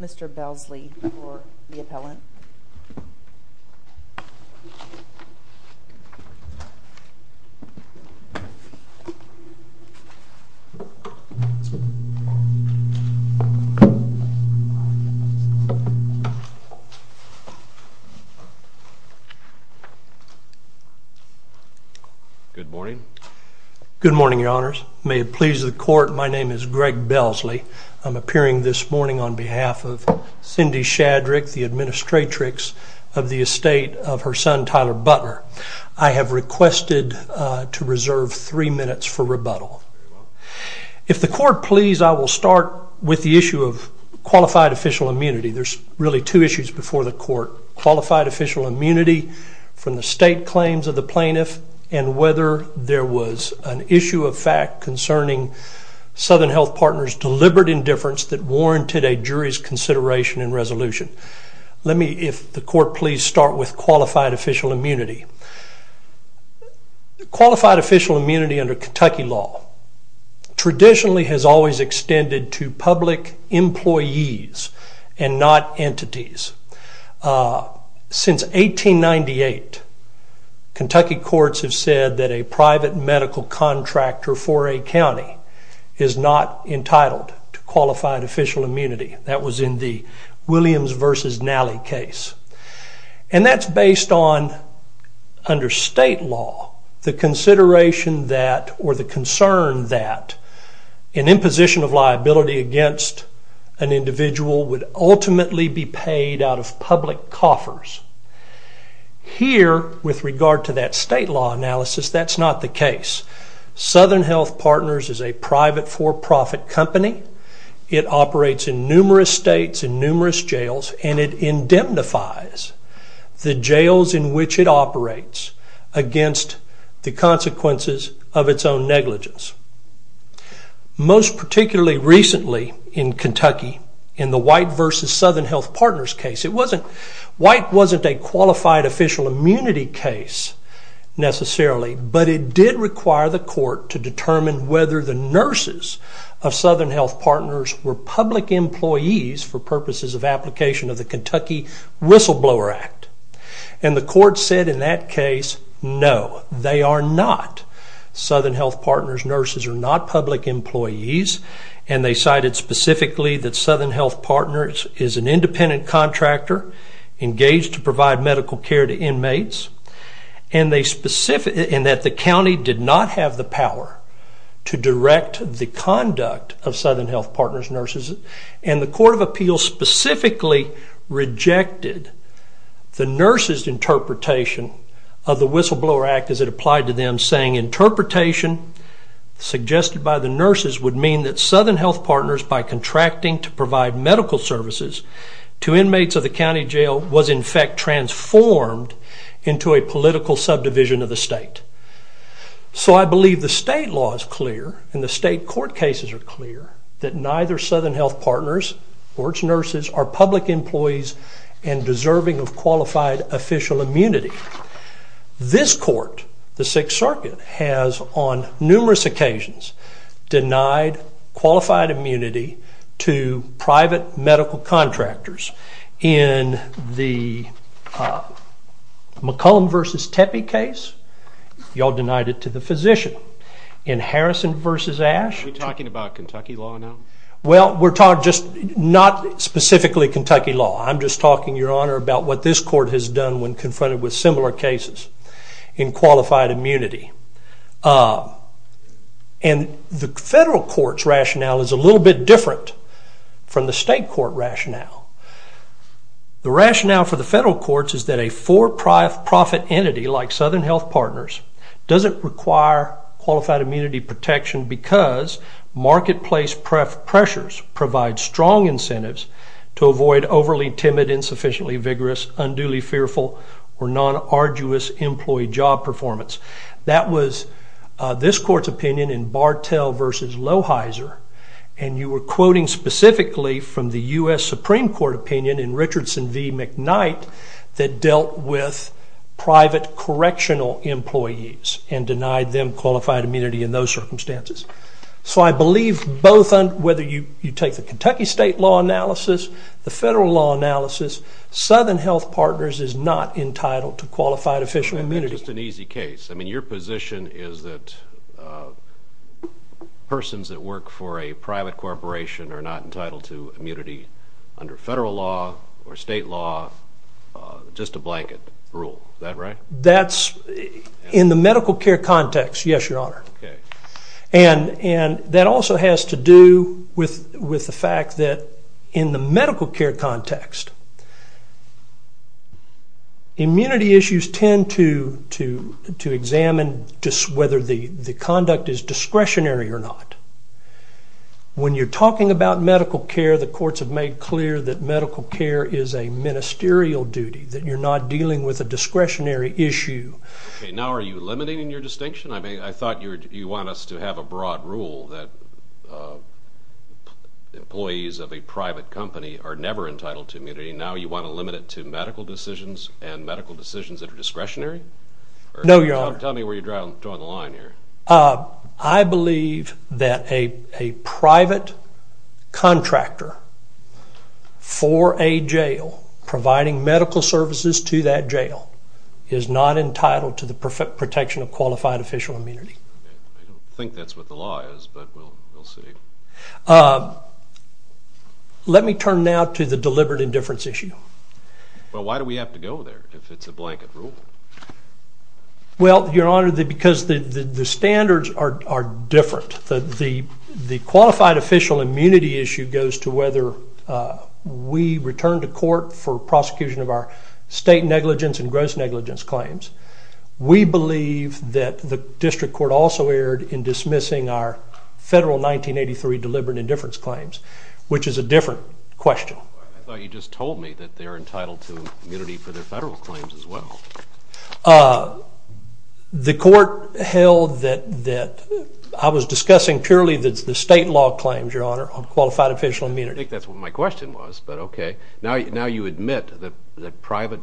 Mr. Belsley for the appellant. Mr. Belsley, I'm appearing this morning on behalf of Cindy Shadrick, the administratrix of the estate of her son, Tyler Butler. I have requested to reserve three minutes for rebuttal. If the court please, I will start with the issue of qualified official immunity. There's really two issues before the court. Qualified official immunity from the state claims of the plaintiff, and whether there was an issue of fact concerning Southern Health Partners deliberate indifference that warranted a jury's consideration and resolution. Let me, if the court please, start with qualified official immunity. Qualified official immunity under Kentucky law traditionally has always extended to public employees and not entities. Since 1898, Kentucky courts have said that a private medical contractor for a county is not entitled to qualified official immunity. That was in the Williams v. Nally case. And that's based on, under state law, the consideration that, or the concern that, an imposition of liability against an individual would ultimately be paid out of public coffers. Here, with regard to that state law analysis, that's not the case. Southern Health Partners is a private for-profit company. It operates in numerous states, in numerous jails, and it indemnifies the jails in which it operates against the consequences of its own negligence. Most particularly recently in Kentucky, in the White v. Southern Health Partners case, White wasn't a qualified official immunity case necessarily, but it did require the court to determine whether the nurses of Southern Health Partners were public employees for purposes of application of the Kentucky Whistleblower Act. And the court said in that case, no, they are not. Southern Health Partners nurses are not public employees. And they cited specifically that Southern Health Partners is an independent contractor engaged to provide medical care to inmates. And that the county did not have the power to direct the conduct of Southern Health Partners nurses. And the court of appeals specifically rejected the nurses' interpretation of the Whistleblower Act as it applied to them, saying, interpretation suggested by the nurses would mean that Southern Health Partners, by contracting to provide medical services to inmates of the county jail, was in fact transformed into a political subdivision of the state. So I believe the state law is clear, and the state court cases are clear, that neither Southern Health Partners or its nurses are public employees and deserving of qualified official immunity. This court, the Sixth Circuit, has on numerous occasions denied qualified immunity to private medical contractors. In the McCollum v. Tepe case, y'all denied it to the physician. In Harrison v. Ashe... Are we talking about Kentucky law now? Well, we're talking just not specifically Kentucky law. I'm just talking, Your Honor, about what this court has done when confronted with similar cases in qualified immunity. And the federal court's rationale is a little bit different from the state court rationale. The rationale for the federal courts is that a for-profit entity like Southern Health Partners doesn't require qualified immunity protection because marketplace pressures provide strong incentives to avoid overly timid, insufficiently vigorous, unduly fearful, or non-arduous employee job performance. That was this court's opinion in Bartell v. Lohyser, and you were quoting specifically from the U.S. Supreme Court opinion in Richardson v. McKnight that dealt with private correctional employees and denied them qualified immunity in those circumstances. So I believe whether you take the Kentucky state law analysis, the federal law analysis, Southern Health Partners is not entitled to qualified official immunity. That's just an easy case. I mean, your position is that persons that work for a private corporation are not entitled to immunity under federal law or state law, just a blanket rule. Is that right? That's in the medical care context, yes, Your Honor. And that also has to do with the fact that in the medical care context, immunity issues tend to examine whether the conduct is discretionary or not. When you're talking about medical care, the courts have made clear that medical care is a ministerial duty, that you're not dealing with a discretionary issue. Okay, now are you limiting your distinction? I mean, I thought you want us to have a broad rule that employees of a private company are never entitled to immunity. Now you want to limit it to medical decisions and medical decisions that are discretionary? No, Your Honor. Tell me where you're drawing the line here. I believe that a private contractor for a jail, providing medical services to that jail, is not entitled to the protection of qualified official immunity. I don't think that's what the law is, but we'll see. Let me turn now to the deliberate indifference issue. Well, why do we have to go there if it's a blanket rule? Well, Your Honor, because the standards are different. The qualified official immunity issue goes to whether we return to court for prosecution of our state negligence and gross negligence claims. We believe that the district court also erred in dismissing our federal 1983 deliberate indifference claims, which is a different question. I thought you just told me that they're entitled to immunity for their federal claims as well. The court held that I was discussing purely the state law claims, Your Honor, on qualified official immunity. I think that's what my question was, but okay. Now you admit that private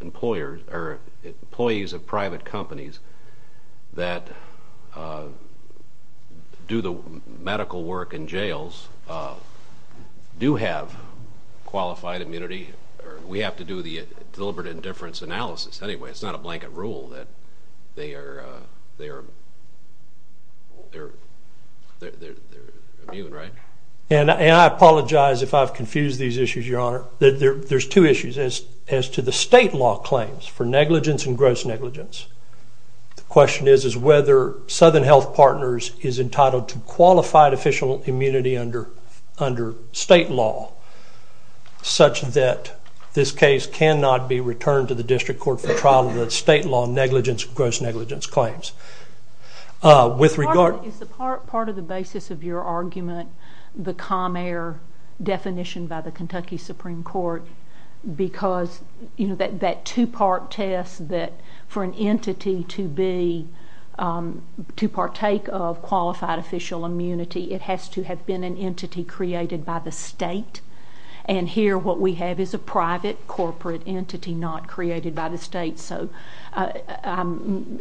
employers or employees of private companies that do the medical work in jails do have qualified immunity. We have to do the deliberate indifference analysis anyway. It's not a blanket rule that they are immune, right? And I apologize if I've confused these issues, Your Honor. There's two issues as to the state law claims for negligence and gross negligence. The question is whether Southern Health Partners is entitled to qualified official immunity under state law such that this case cannot be returned to the district court for trial of the state law negligence and gross negligence claims. Is part of the basis of your argument the Comair definition by the Kentucky Supreme Court because that two-part test that for an entity to partake of qualified official immunity, it has to have been an entity created by the state? And here what we have is a private corporate entity not created by the state. So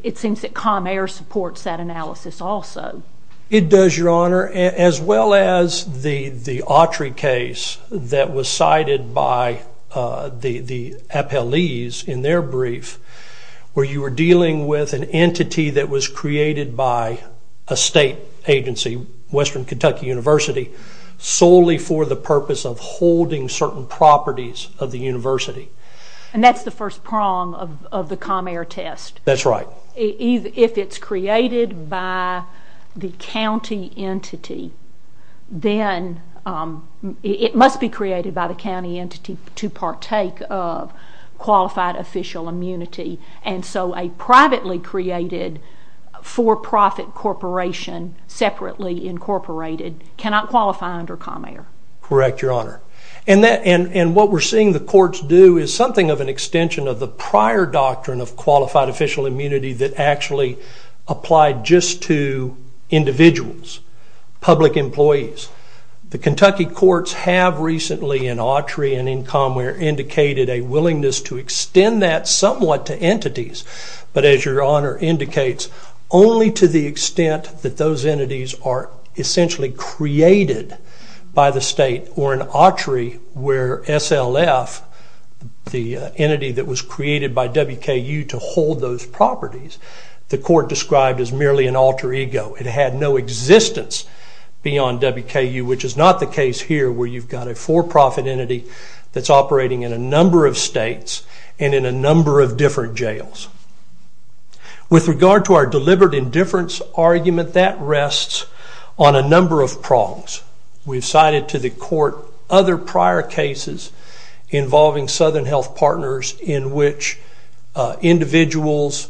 it seems that Comair supports that analysis also. It does, Your Honor, as well as the Autry case that was cited by the appellees in their brief where you were dealing with an entity that was created by a state agency, Western Kentucky University, solely for the purpose of holding certain properties of the university. And that's the first prong of the Comair test. That's right. If it's created by the county entity, then it must be created by the county entity to partake of qualified official immunity. And so a privately created for-profit corporation separately incorporated cannot qualify under Comair. Correct, Your Honor. And what we're seeing the courts do is something of an extension of the prior doctrine of qualified official immunity that actually applied just to individuals, public employees. The Kentucky courts have recently, in Autry and in Comair, indicated a willingness to extend that somewhat to entities. But as Your Honor indicates, only to the extent that those entities are essentially created by the state or in Autry where SLF, the entity that was created by WKU to hold those properties, the court described as merely an alter ego. It had no existence beyond WKU, which is not the case here where you've got a for-profit entity that's operating in a number of states and in a number of different jails. With regard to our deliberate indifference argument, that rests on a number of prongs. We've cited to the court other prior cases involving Southern Health Partners in which individuals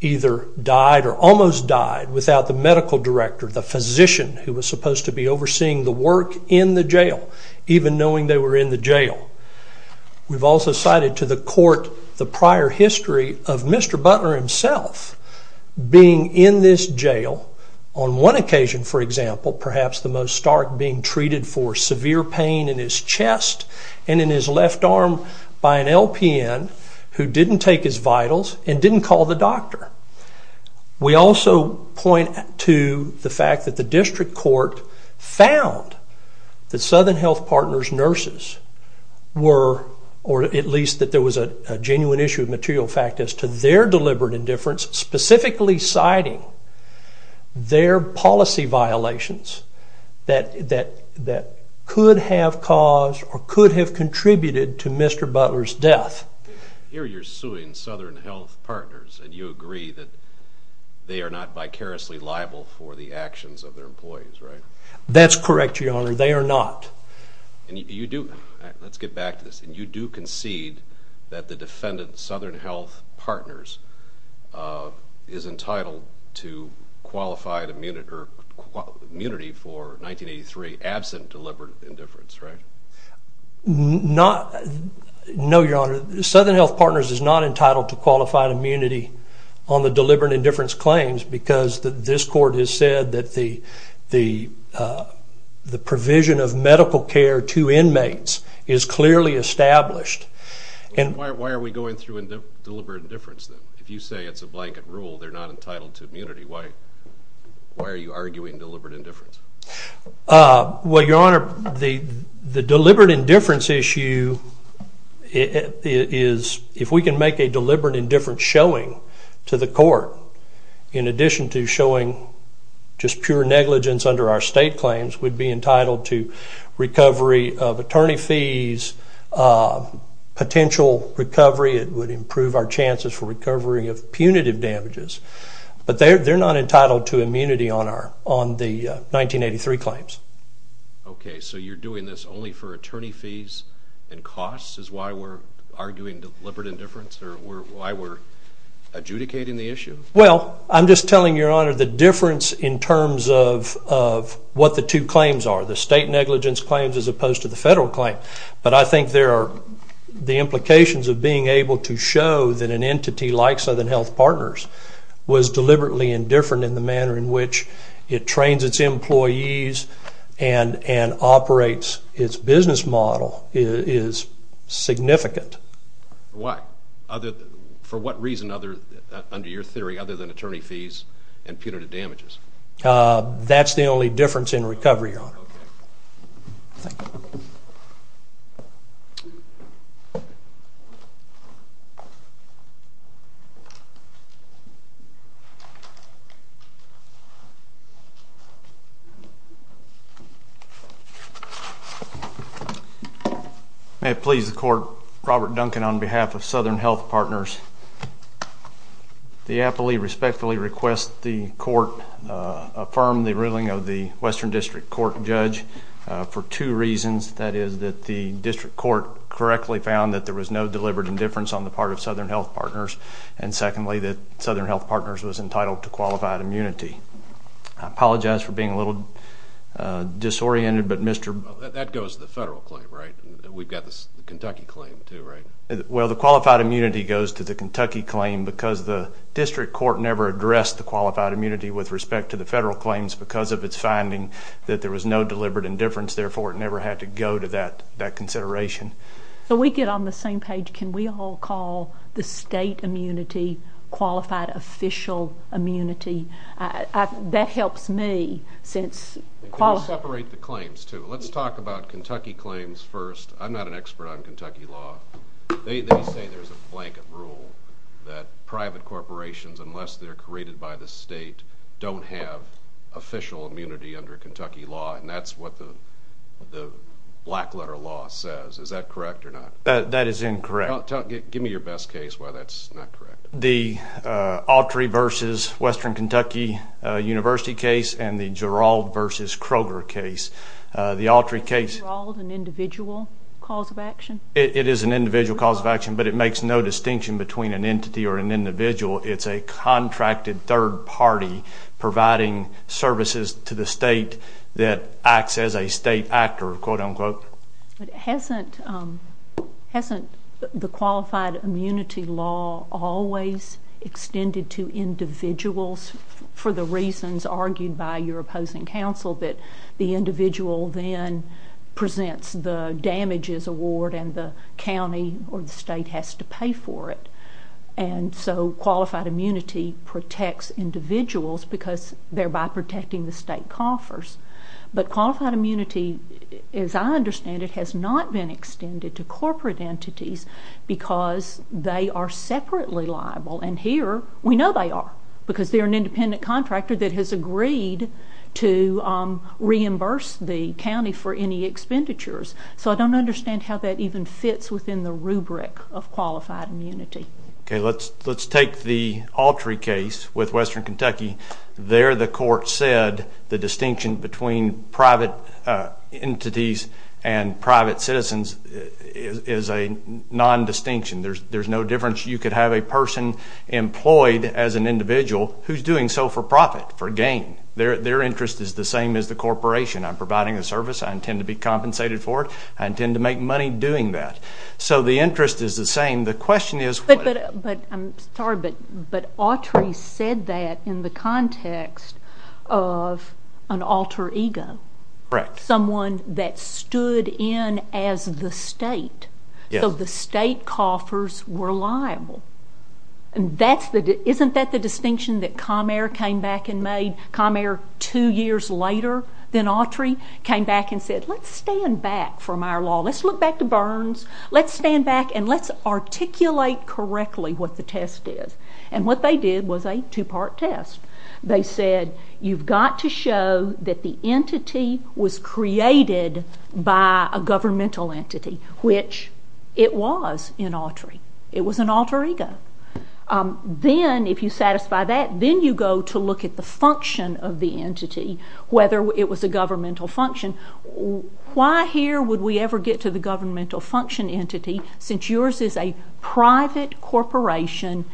either died or almost died without the medical director, the physician who was supposed to be overseeing the work in the jail, even knowing they were in the jail. We've also cited to the court the prior history of Mr. Butler himself being in this jail, on one occasion, for example, perhaps the most stark, being treated for severe pain in his chest and in his left arm by an LPN who didn't take his vitals and didn't call the doctor. We also point to the fact that the district court found that Southern Health Partners' nurses were, or at least that there was a genuine issue of material fact as to their deliberate indifference, specifically citing their policy violations that could have caused or could have contributed to Mr. Butler's death. Here you're suing Southern Health Partners and you agree that they are not vicariously liable for the actions of their employees, right? That's correct, Your Honor. They are not. And you do, let's get back to this, and you do concede that the defendant, Southern Health Partners, is entitled to qualified immunity for 1983 absent deliberate indifference, right? No, Your Honor. Southern Health Partners is not entitled to qualified immunity on the deliberate indifference claims because this court has said that the provision of medical care to inmates is clearly established. Why are we going through deliberate indifference then? If you say it's a blanket rule, they're not entitled to immunity. Why are you arguing deliberate indifference? Well, Your Honor, the deliberate indifference issue is, if we can make a deliberate indifference showing to the court, in addition to showing just pure negligence under our state claims, we'd be entitled to recovery of attorney fees, potential recovery, it would improve our chances for recovery of punitive damages. But they're not entitled to immunity on the 1983 claims. Okay, so you're doing this only for attorney fees and costs is why we're arguing deliberate indifference or why we're adjudicating the issue? Well, I'm just telling, Your Honor, the difference in terms of what the two claims are, the state negligence claims as opposed to the federal claim. But I think the implications of being able to show that an entity like Southern Health Partners was deliberately indifferent in the manner in which it trains its employees and operates its business model is significant. Why? For what reason, under your theory, other than attorney fees and punitive damages? That's the only difference in recovery, Your Honor. Okay. Thank you. May it please the Court, Robert Duncan on behalf of Southern Health Partners. The appellee respectfully requests the Court affirm the ruling of the Western District Court judge for two reasons. That is that the district court correctly found that there was no deliberate indifference on the part of Southern Health Partners, and secondly that Southern Health Partners was entitled to qualified immunity. I apologize for being a little disoriented, but Mr. That goes to the federal claim, right? We've got the Kentucky claim too, right? Well, the qualified immunity goes to the Kentucky claim because the district court never addressed the qualified immunity with respect to the federal claims because of its finding that there was no deliberate indifference, therefore it never had to go to that consideration. So we get on the same page. Can we all call the state immunity qualified official immunity? That helps me since Can we separate the claims too? Let's talk about Kentucky claims first. I'm not an expert on Kentucky law. They say there's a blanket rule that private corporations, unless they're created by the state, don't have official immunity under Kentucky law, and that's what the black letter law says. Is that correct or not? That is incorrect. Give me your best case why that's not correct. The Autry v. Western Kentucky University case and the Gerald v. Kroger case. The Autry case Is the Gerald an individual cause of action? It is an individual cause of action, but it makes no distinction between an entity or an individual. It's a contracted third party providing services to the state that acts as a state actor, quote-unquote. But hasn't the qualified immunity law always extended to individuals for the reasons argued by your opposing counsel, that the individual then presents the damages award and the county or the state has to pay for it? And so qualified immunity protects individuals because they're by protecting the state coffers. But qualified immunity, as I understand it, has not been extended to corporate entities because they are separately liable. And here we know they are because they're an independent contractor that has agreed to reimburse the county for any expenditures. So I don't understand how that even fits within the rubric of qualified immunity. Okay, let's take the Autry case with Western Kentucky. There the court said the distinction between private entities and private citizens is a nondistinction. There's no difference. You could have a person employed as an individual who's doing so for profit, for gain. Their interest is the same as the corporation. I'm providing a service. I intend to be compensated for it. I intend to make money doing that. So the interest is the same. The question is what? But I'm sorry, but Autry said that in the context of an alter ego. Correct. Someone that stood in as the state. So the state coffers were liable. Isn't that the distinction that Comair came back and made? Comair, two years later than Autry, came back and said, let's stand back from our law. Let's look back to Burns. Let's stand back and let's articulate correctly what the test is. And what they did was a two-part test. They said, you've got to show that the entity was created by a governmental entity, which it was in Autry. It was an alter ego. Then, if you satisfy that, then you go to look at the function of the entity, whether it was a governmental function. Why here would we ever get to the governmental function entity, since yours is a private corporation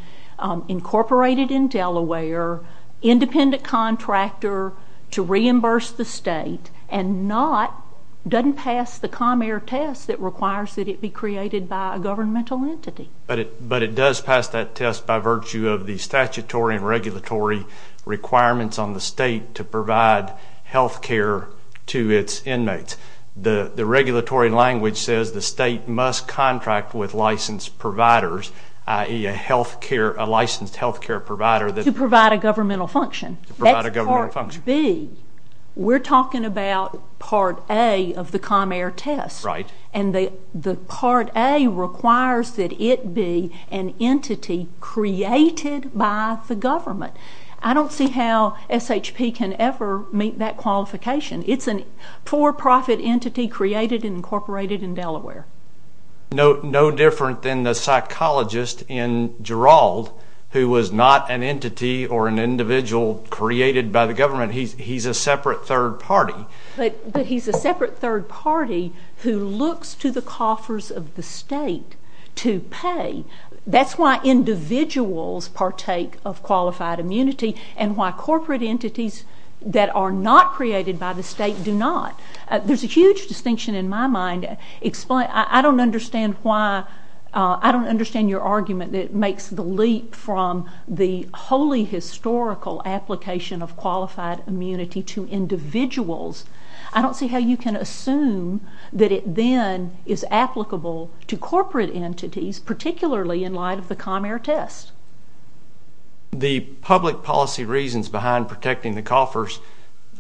incorporated in Delaware, independent contractor to reimburse the state, doesn't pass the Comair test that requires that it be created by a governmental entity. But it does pass that test by virtue of the statutory and regulatory requirements on the state to provide health care to its inmates. The regulatory language says the state must contract with licensed providers, i.e., a licensed health care provider. To provide a governmental function. That's part B. We're talking about part A of the Comair test. Right. And the part A requires that it be an entity created by the government. I don't see how SHP can ever meet that qualification. It's a for-profit entity created and incorporated in Delaware. No different than the psychologist in Gerald, who was not an entity or an individual created by the government. He's a separate third party. But he's a separate third party who looks to the coffers of the state to pay. That's why individuals partake of qualified immunity and why corporate entities that are not created by the state do not. There's a huge distinction in my mind. I don't understand your argument that makes the leap from the wholly historical application of qualified immunity to individuals. I don't see how you can assume that it then is applicable to corporate entities, particularly in light of the Comair test. The public policy reasons behind protecting the coffers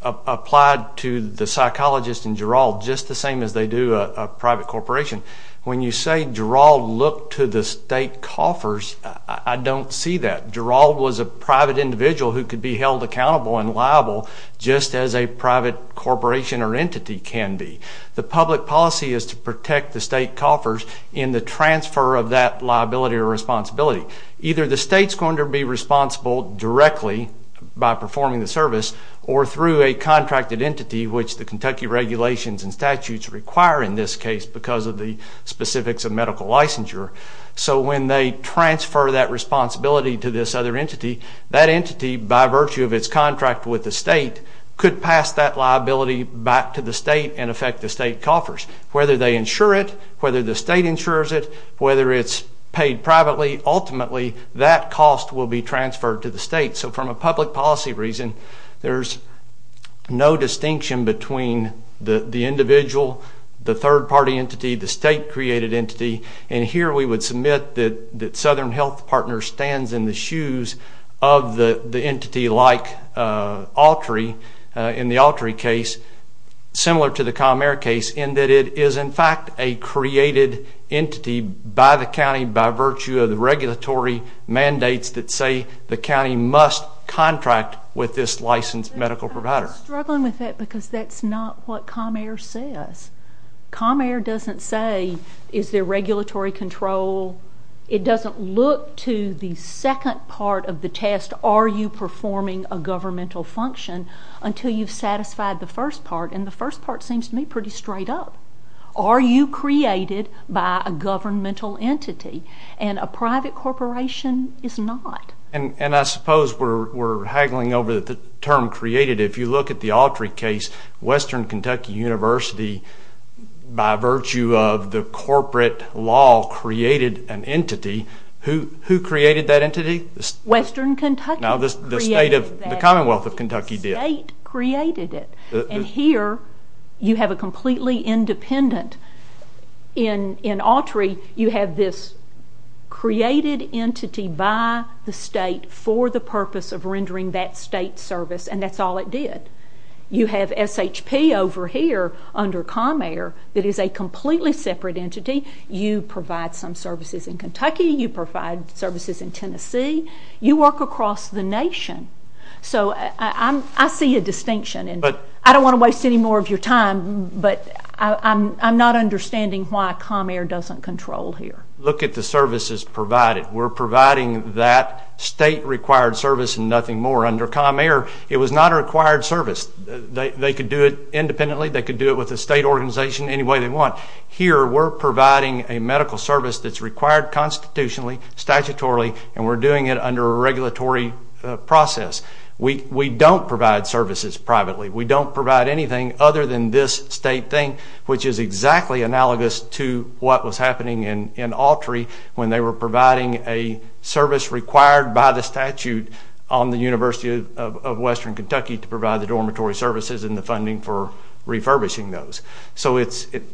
applied to the psychologist in Gerald just the same as they do a private corporation. When you say Gerald looked to the state coffers, I don't see that. Gerald was a private individual who could be held accountable and liable just as a private corporation or entity can be. The public policy is to protect the state coffers in the transfer of that liability or responsibility. Either the state's going to be responsible directly by performing the service or through a contracted entity, which the Kentucky regulations and statutes require in this case because of the specifics of medical licensure. So when they transfer that responsibility to this other entity, that entity, by virtue of its contract with the state, could pass that liability back to the state and affect the state coffers. Whether they insure it, whether the state insures it, whether it's paid privately, ultimately that cost will be transferred to the state. So from a public policy reason, there's no distinction between the individual, the third-party entity, the state-created entity. And here we would submit that Southern Health Partners stands in the shoes of the entity like Altree in the Altree case, similar to the Comair case, in that it is in fact a created entity by the county by virtue of the regulatory mandates that say the county must contract with this licensed medical provider. I'm struggling with that because that's not what Comair says. Comair doesn't say, is there regulatory control? It doesn't look to the second part of the test, are you performing a governmental function, until you've satisfied the first part. And the first part seems to me pretty straight up. Are you created by a governmental entity? And a private corporation is not. And I suppose we're haggling over the term created. If you look at the Altree case, Western Kentucky University, by virtue of the corporate law, created an entity. Who created that entity? Western Kentucky created that entity. The Commonwealth of Kentucky did. The state created it. And here you have a completely independent, in Altree you have this created entity by the state for the purpose of rendering that state service, and that's all it did. You have SHP over here under Comair that is a completely separate entity. You provide some services in Kentucky. You provide services in Tennessee. You work across the nation. So I see a distinction. I don't want to waste any more of your time, but I'm not understanding why Comair doesn't control here. Look at the services provided. We're providing that state-required service and nothing more. Under Comair, it was not a required service. They could do it independently. They could do it with a state organization any way they want. Here we're providing a medical service that's required constitutionally, statutorily, and we're doing it under a regulatory process. We don't provide services privately. We don't provide anything other than this state thing, which is exactly analogous to what was happening in Altree when they were providing a service required by the statute on the University of Western Kentucky to provide the dormitory services and the funding for refurbishing those. So it's a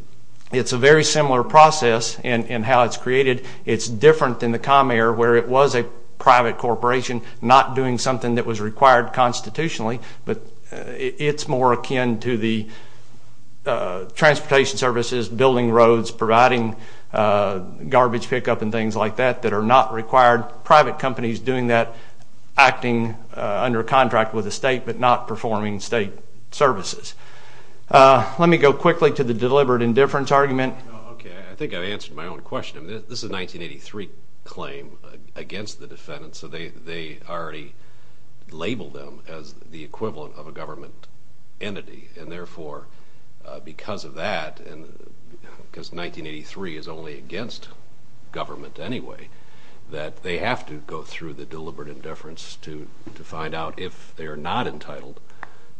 very similar process in how it's created. It's different than the Comair where it was a private corporation not doing something that was required constitutionally, but it's more akin to the transportation services, building roads, providing garbage pickup and things like that that are not required. There are private companies doing that, acting under a contract with the state, but not performing state services. Let me go quickly to the deliberate indifference argument. Okay, I think I answered my own question. This is a 1983 claim against the defendant, so they already labeled them as the equivalent of a government entity, and therefore because of that, because 1983 is only against government anyway, that they have to go through the deliberate indifference to find out if they are not entitled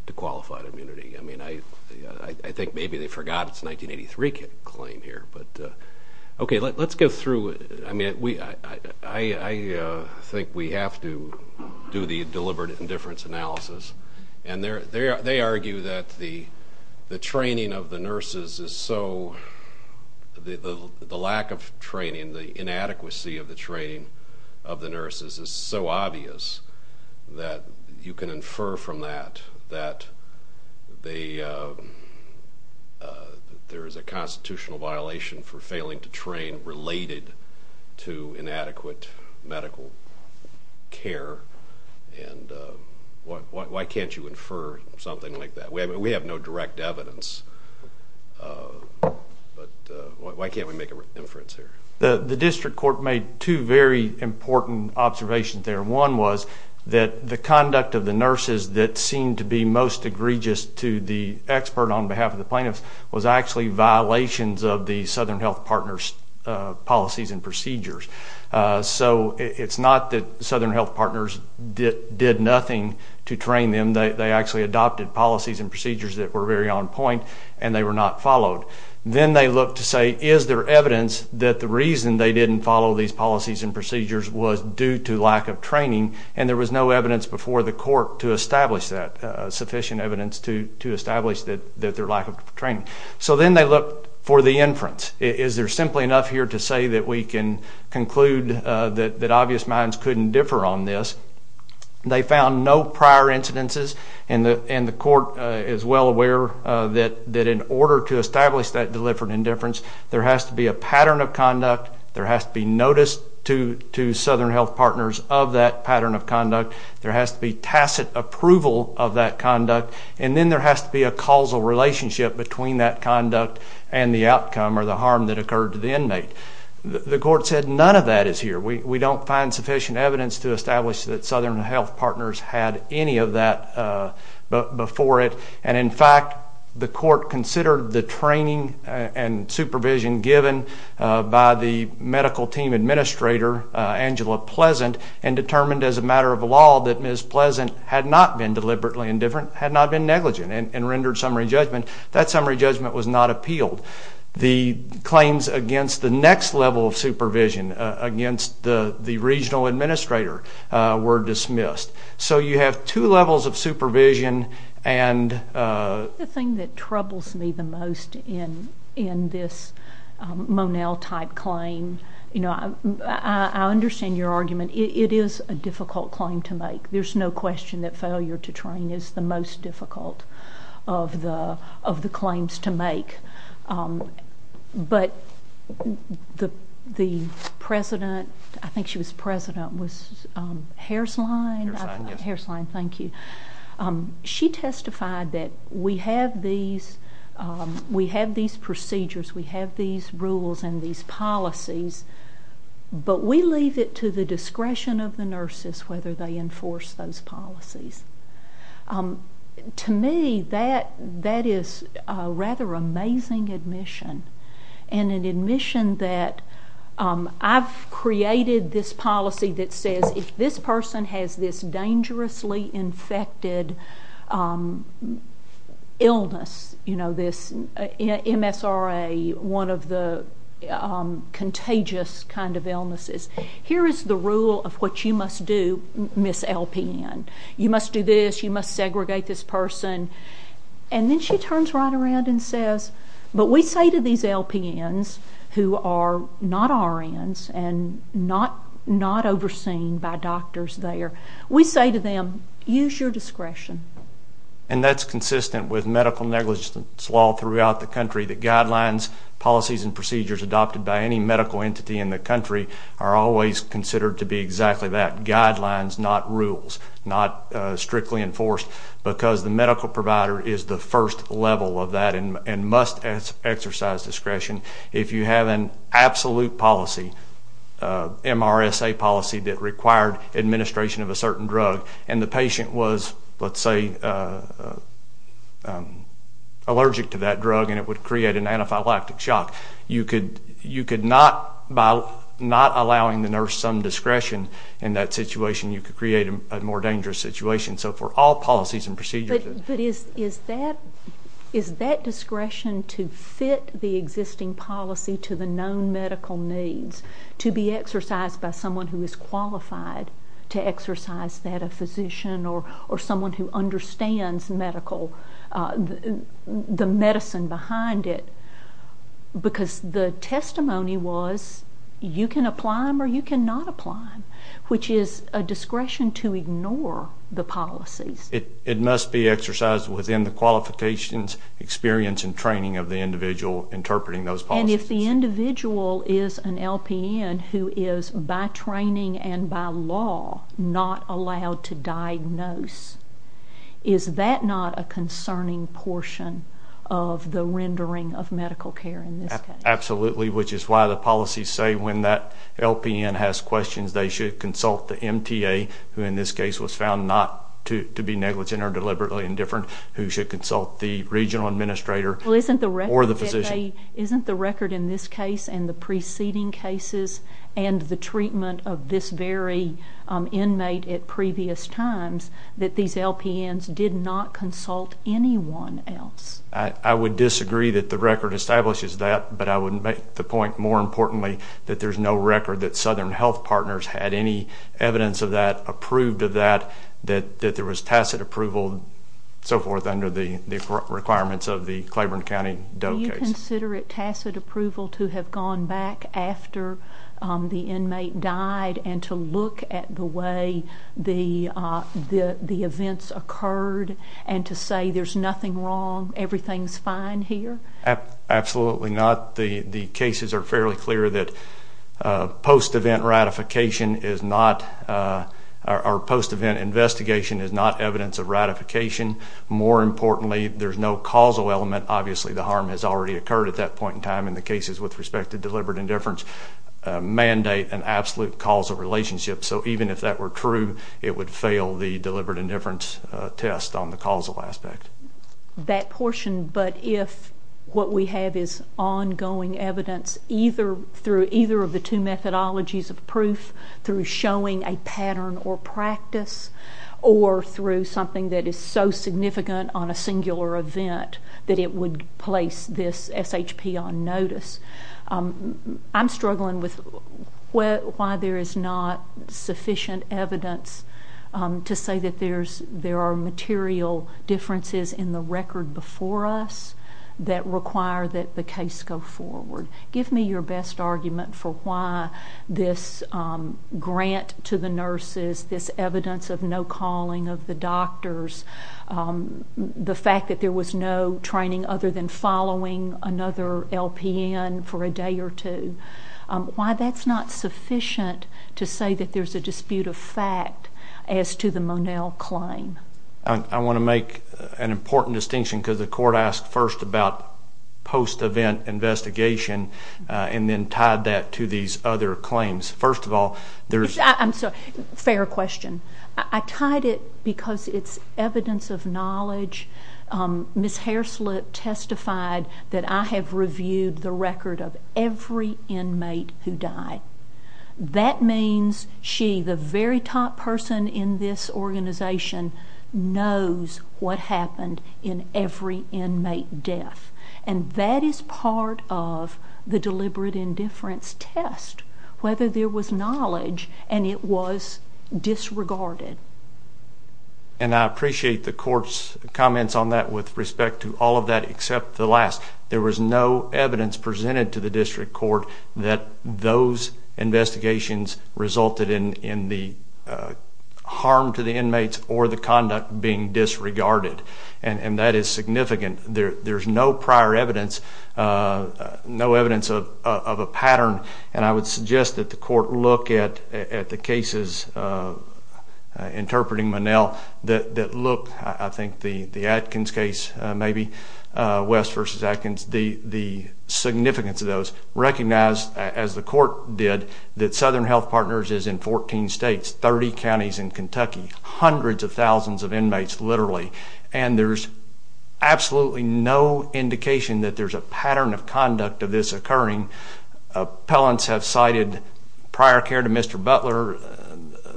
to qualified immunity. I think maybe they forgot it's a 1983 claim here. Okay, let's go through it. I think we have to do the deliberate indifference analysis, and they argue that the training of the nurses is so, the lack of training, the inadequacy of the training of the nurses is so obvious that you can infer from that that there is a constitutional violation for failing to train related to inadequate medical care, and why can't you infer something like that? We have no direct evidence, but why can't we make an inference here? The district court made two very important observations there. One was that the conduct of the nurses that seemed to be most egregious to the expert on behalf of the plaintiffs was actually violations of the Southern Health Partners policies and procedures. So it's not that Southern Health Partners did nothing to train them. They actually adopted policies and procedures that were very on point, and they were not followed. Then they looked to say, is there evidence that the reason they didn't follow these policies and procedures was due to lack of training, and there was no evidence before the court to establish that, sufficient evidence to establish their lack of training. So then they looked for the inference. Is there simply enough here to say that we can conclude that obvious minds couldn't differ on this? They found no prior incidences, and the court is well aware that in order to establish that deliberate indifference, there has to be a pattern of conduct, there has to be notice to Southern Health Partners of that pattern of conduct, there has to be tacit approval of that conduct, and then there has to be a causal relationship between that conduct and the outcome or the harm that occurred to the inmate. The court said none of that is here. We don't find sufficient evidence to establish that Southern Health Partners had any of that before it, and in fact the court considered the training and supervision given by the medical team administrator, Angela Pleasant, and determined as a matter of law that Ms. Pleasant had not been deliberately indifferent, had not been negligent, and rendered summary judgment. That summary judgment was not appealed. The claims against the next level of supervision, against the regional administrator, were dismissed. So you have two levels of supervision and... The thing that troubles me the most in this Monell-type claim, you know, I understand your argument. It is a difficult claim to make. There's no question that failure to train is the most difficult of the claims to make. But the president, I think she was president, was Haersline? Haersline, yes. Haersline, thank you. She testified that we have these procedures, we have these rules and these policies, but we leave it to the discretion of the nurses whether they enforce those policies. To me, that is a rather amazing admission, and an admission that I've created this policy that says if this person has this dangerously infected illness, you know, this MSRA, one of the contagious kind of illnesses, here is the rule of what you must do, Ms. LPN. You must do this, you must segregate this person. And then she turns right around and says, but we say to these LPNs who are not RNs and not overseen by doctors there, we say to them, use your discretion. And that's consistent with medical negligence law throughout the country, that guidelines, policies, and procedures adopted by any medical entity in the country are always considered to be exactly that, guidelines, not rules, not strictly enforced, because the medical provider is the first level of that and must exercise discretion. If you have an absolute policy, MRSA policy, that required administration of a certain drug, and the patient was, let's say, allergic to that drug, and it would create an anaphylactic shock, you could not, by not allowing the nurse some discretion in that situation, you could create a more dangerous situation. So for all policies and procedures. But is that discretion to fit the existing policy to the known medical needs, to be exercised by someone who is qualified to exercise that, a physician or someone who understands the medicine behind it, because the testimony was you can apply them or you cannot apply them, which is a discretion to ignore the policies. It must be exercised within the qualifications, experience, and training of the individual interpreting those policies. And if the individual is an LPN who is, by training and by law, not allowed to diagnose, is that not a concerning portion of the rendering of medical care in this case? Absolutely, which is why the policies say when that LPN has questions, they should consult the MTA, who in this case was found not to be negligent or deliberately indifferent, who should consult the regional administrator or the physician. Isn't the record in this case and the preceding cases and the treatment of this very inmate at previous times that these LPNs did not consult anyone else? I would disagree that the record establishes that, but I would make the point, more importantly, that there's no record that Southern Health Partners had any evidence of that, approved of that, that there was tacit approval and so forth under the requirements of the Claiborne County Doe case. Do you consider it tacit approval to have gone back after the inmate died and to look at the way the events occurred and to say there's nothing wrong, everything's fine here? Absolutely not. The cases are fairly clear that post-event ratification is not, or post-event investigation is not evidence of ratification. More importantly, there's no causal element. Obviously, the harm has already occurred at that point in time in the cases with respect to deliberate indifference. Mandate an absolute causal relationship. So even if that were true, it would fail the deliberate indifference test on the causal aspect. That portion, but if what we have is ongoing evidence either through either of the two methodologies of proof, through showing a pattern or practice, or through something that is so significant on a singular event that it would place this SHP on notice, I'm struggling with why there is not sufficient evidence to say that there are material differences in the record before us that require that the case go forward. Give me your best argument for why this grant to the nurses, this evidence of no calling of the doctors, the fact that there was no training other than following another LPN for a day or two, why that's not sufficient to say that there's a dispute of fact as to the Monell claim. I want to make an important distinction because the court asked first about post-event investigation and then tied that to these other claims. First of all, there's... I'm sorry, fair question. I tied it because it's evidence of knowledge. Ms. Hairslip testified that I have reviewed the record of every inmate who died. That means she, the very top person in this organization, knows what happened in every inmate death, and that is part of the deliberate indifference test, whether there was knowledge and it was disregarded. And I appreciate the court's comments on that with respect to all of that except the last. There was no evidence presented to the district court that those investigations resulted in the harm to the inmates or the conduct being disregarded, and that is significant. There's no prior evidence, no evidence of a pattern, and I would suggest that the court look at the cases interpreting Monell that look, I think the Atkins case maybe, West v. Atkins, the significance of those, recognize, as the court did, that Southern Health Partners is in 14 states, 30 counties in Kentucky, hundreds of thousands of inmates literally, and there's absolutely no indication that there's a pattern of conduct of this occurring Appellants have cited prior care to Mr. Butler,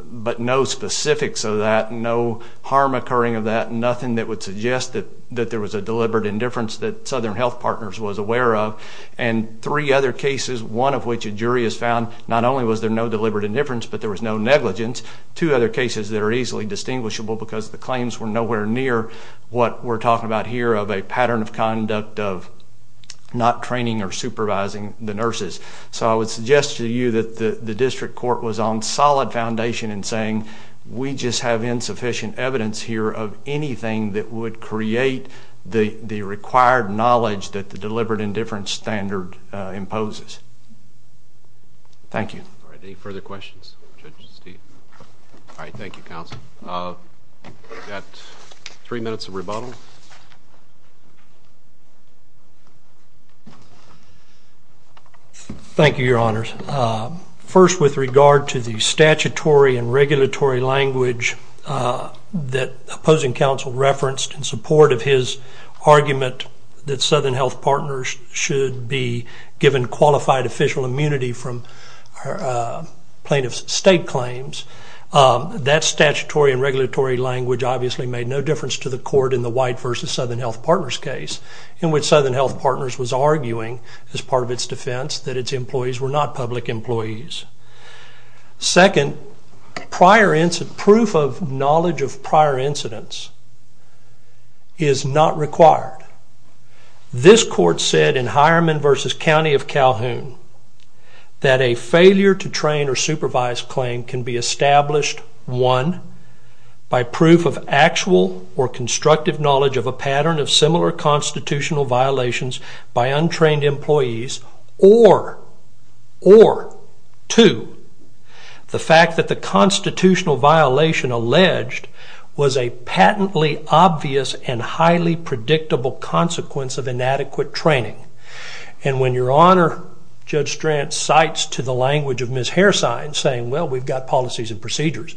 but no specifics of that, no harm occurring of that, nothing that would suggest that there was a deliberate indifference that Southern Health Partners was aware of. And three other cases, one of which a jury has found not only was there no deliberate indifference, but there was no negligence. Two other cases that are easily distinguishable because the claims were nowhere near what we're talking about here of a pattern of conduct of not training or supervising the nurses. So I would suggest to you that the district court was on solid foundation in saying we just have insufficient evidence here of anything that would create the required knowledge that the deliberate indifference standard imposes. Thank you. All right, any further questions? All right, thank you, counsel. We've got three minutes of rebuttal. Thank you, Your Honors. First, with regard to the statutory and regulatory language that opposing counsel referenced in support of his argument that Southern Health Partners should be given qualified official immunity from plaintiff's state claims, that statutory and regulatory language obviously made no difference to the court in the White v. Southern Health Partners case. In which Southern Health Partners was arguing as part of its defense that its employees were not public employees. Second, proof of knowledge of prior incidents is not required. This court said in Hireman v. County of Calhoun that a failure to train or supervise claim can be established, one, by proof of actual or constructive knowledge of a pattern of similar constitutional violations by untrained employees, or, or, two, the fact that the constitutional violation alleged was a patently obvious and highly predictable consequence of inadequate training. And when Your Honor, Judge Strand, cites to the language of Ms. Hairsine, saying, well, we've got policies and procedures,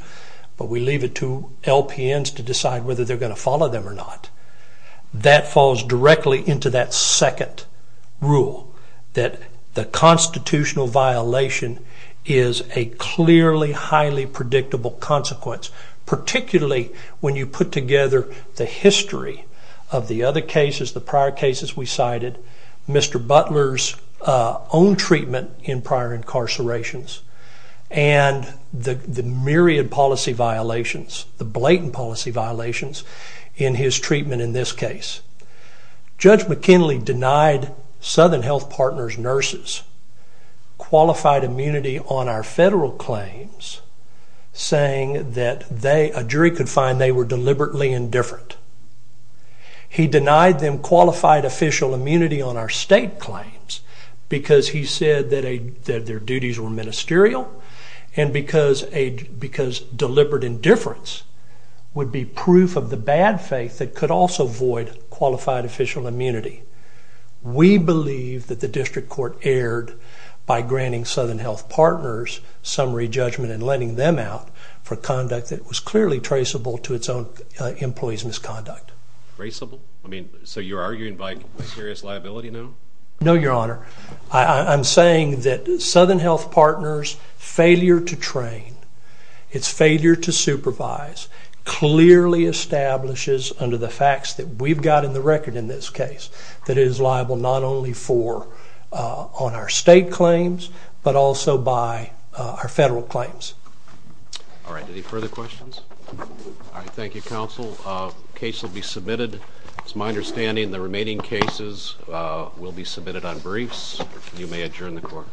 but we leave it to LPNs to decide whether they're going to follow them or not, that falls directly into that second rule, that the constitutional violation is a clearly highly predictable consequence, particularly when you put together the history of the other cases, the prior cases we cited, Mr. Butler's own treatment in prior incarcerations, and the myriad policy violations, the blatant policy violations, in his treatment in this case. Judge McKinley denied Southern Health Partners' nurses qualified immunity on our federal claims, saying that they, a jury could find they were deliberately indifferent. He denied them qualified official immunity on our state claims because he said that their duties were ministerial and because deliberate indifference would be proof of the bad faith that could also void qualified official immunity. We believe that the district court erred by granting Southern Health Partners summary judgment and letting them out for conduct that was clearly traceable to its own employees' misconduct. Traceable? I mean, so you're arguing by serious liability now? No, Your Honor. I'm saying that Southern Health Partners' failure to train, its failure to supervise, clearly establishes under the facts that we've got in the record in this case that it is liable not only on our state claims, but also by our federal claims. All right, any further questions? All right, thank you, counsel. The case will be submitted. It's my understanding the remaining cases will be submitted on briefs. You may adjourn the court.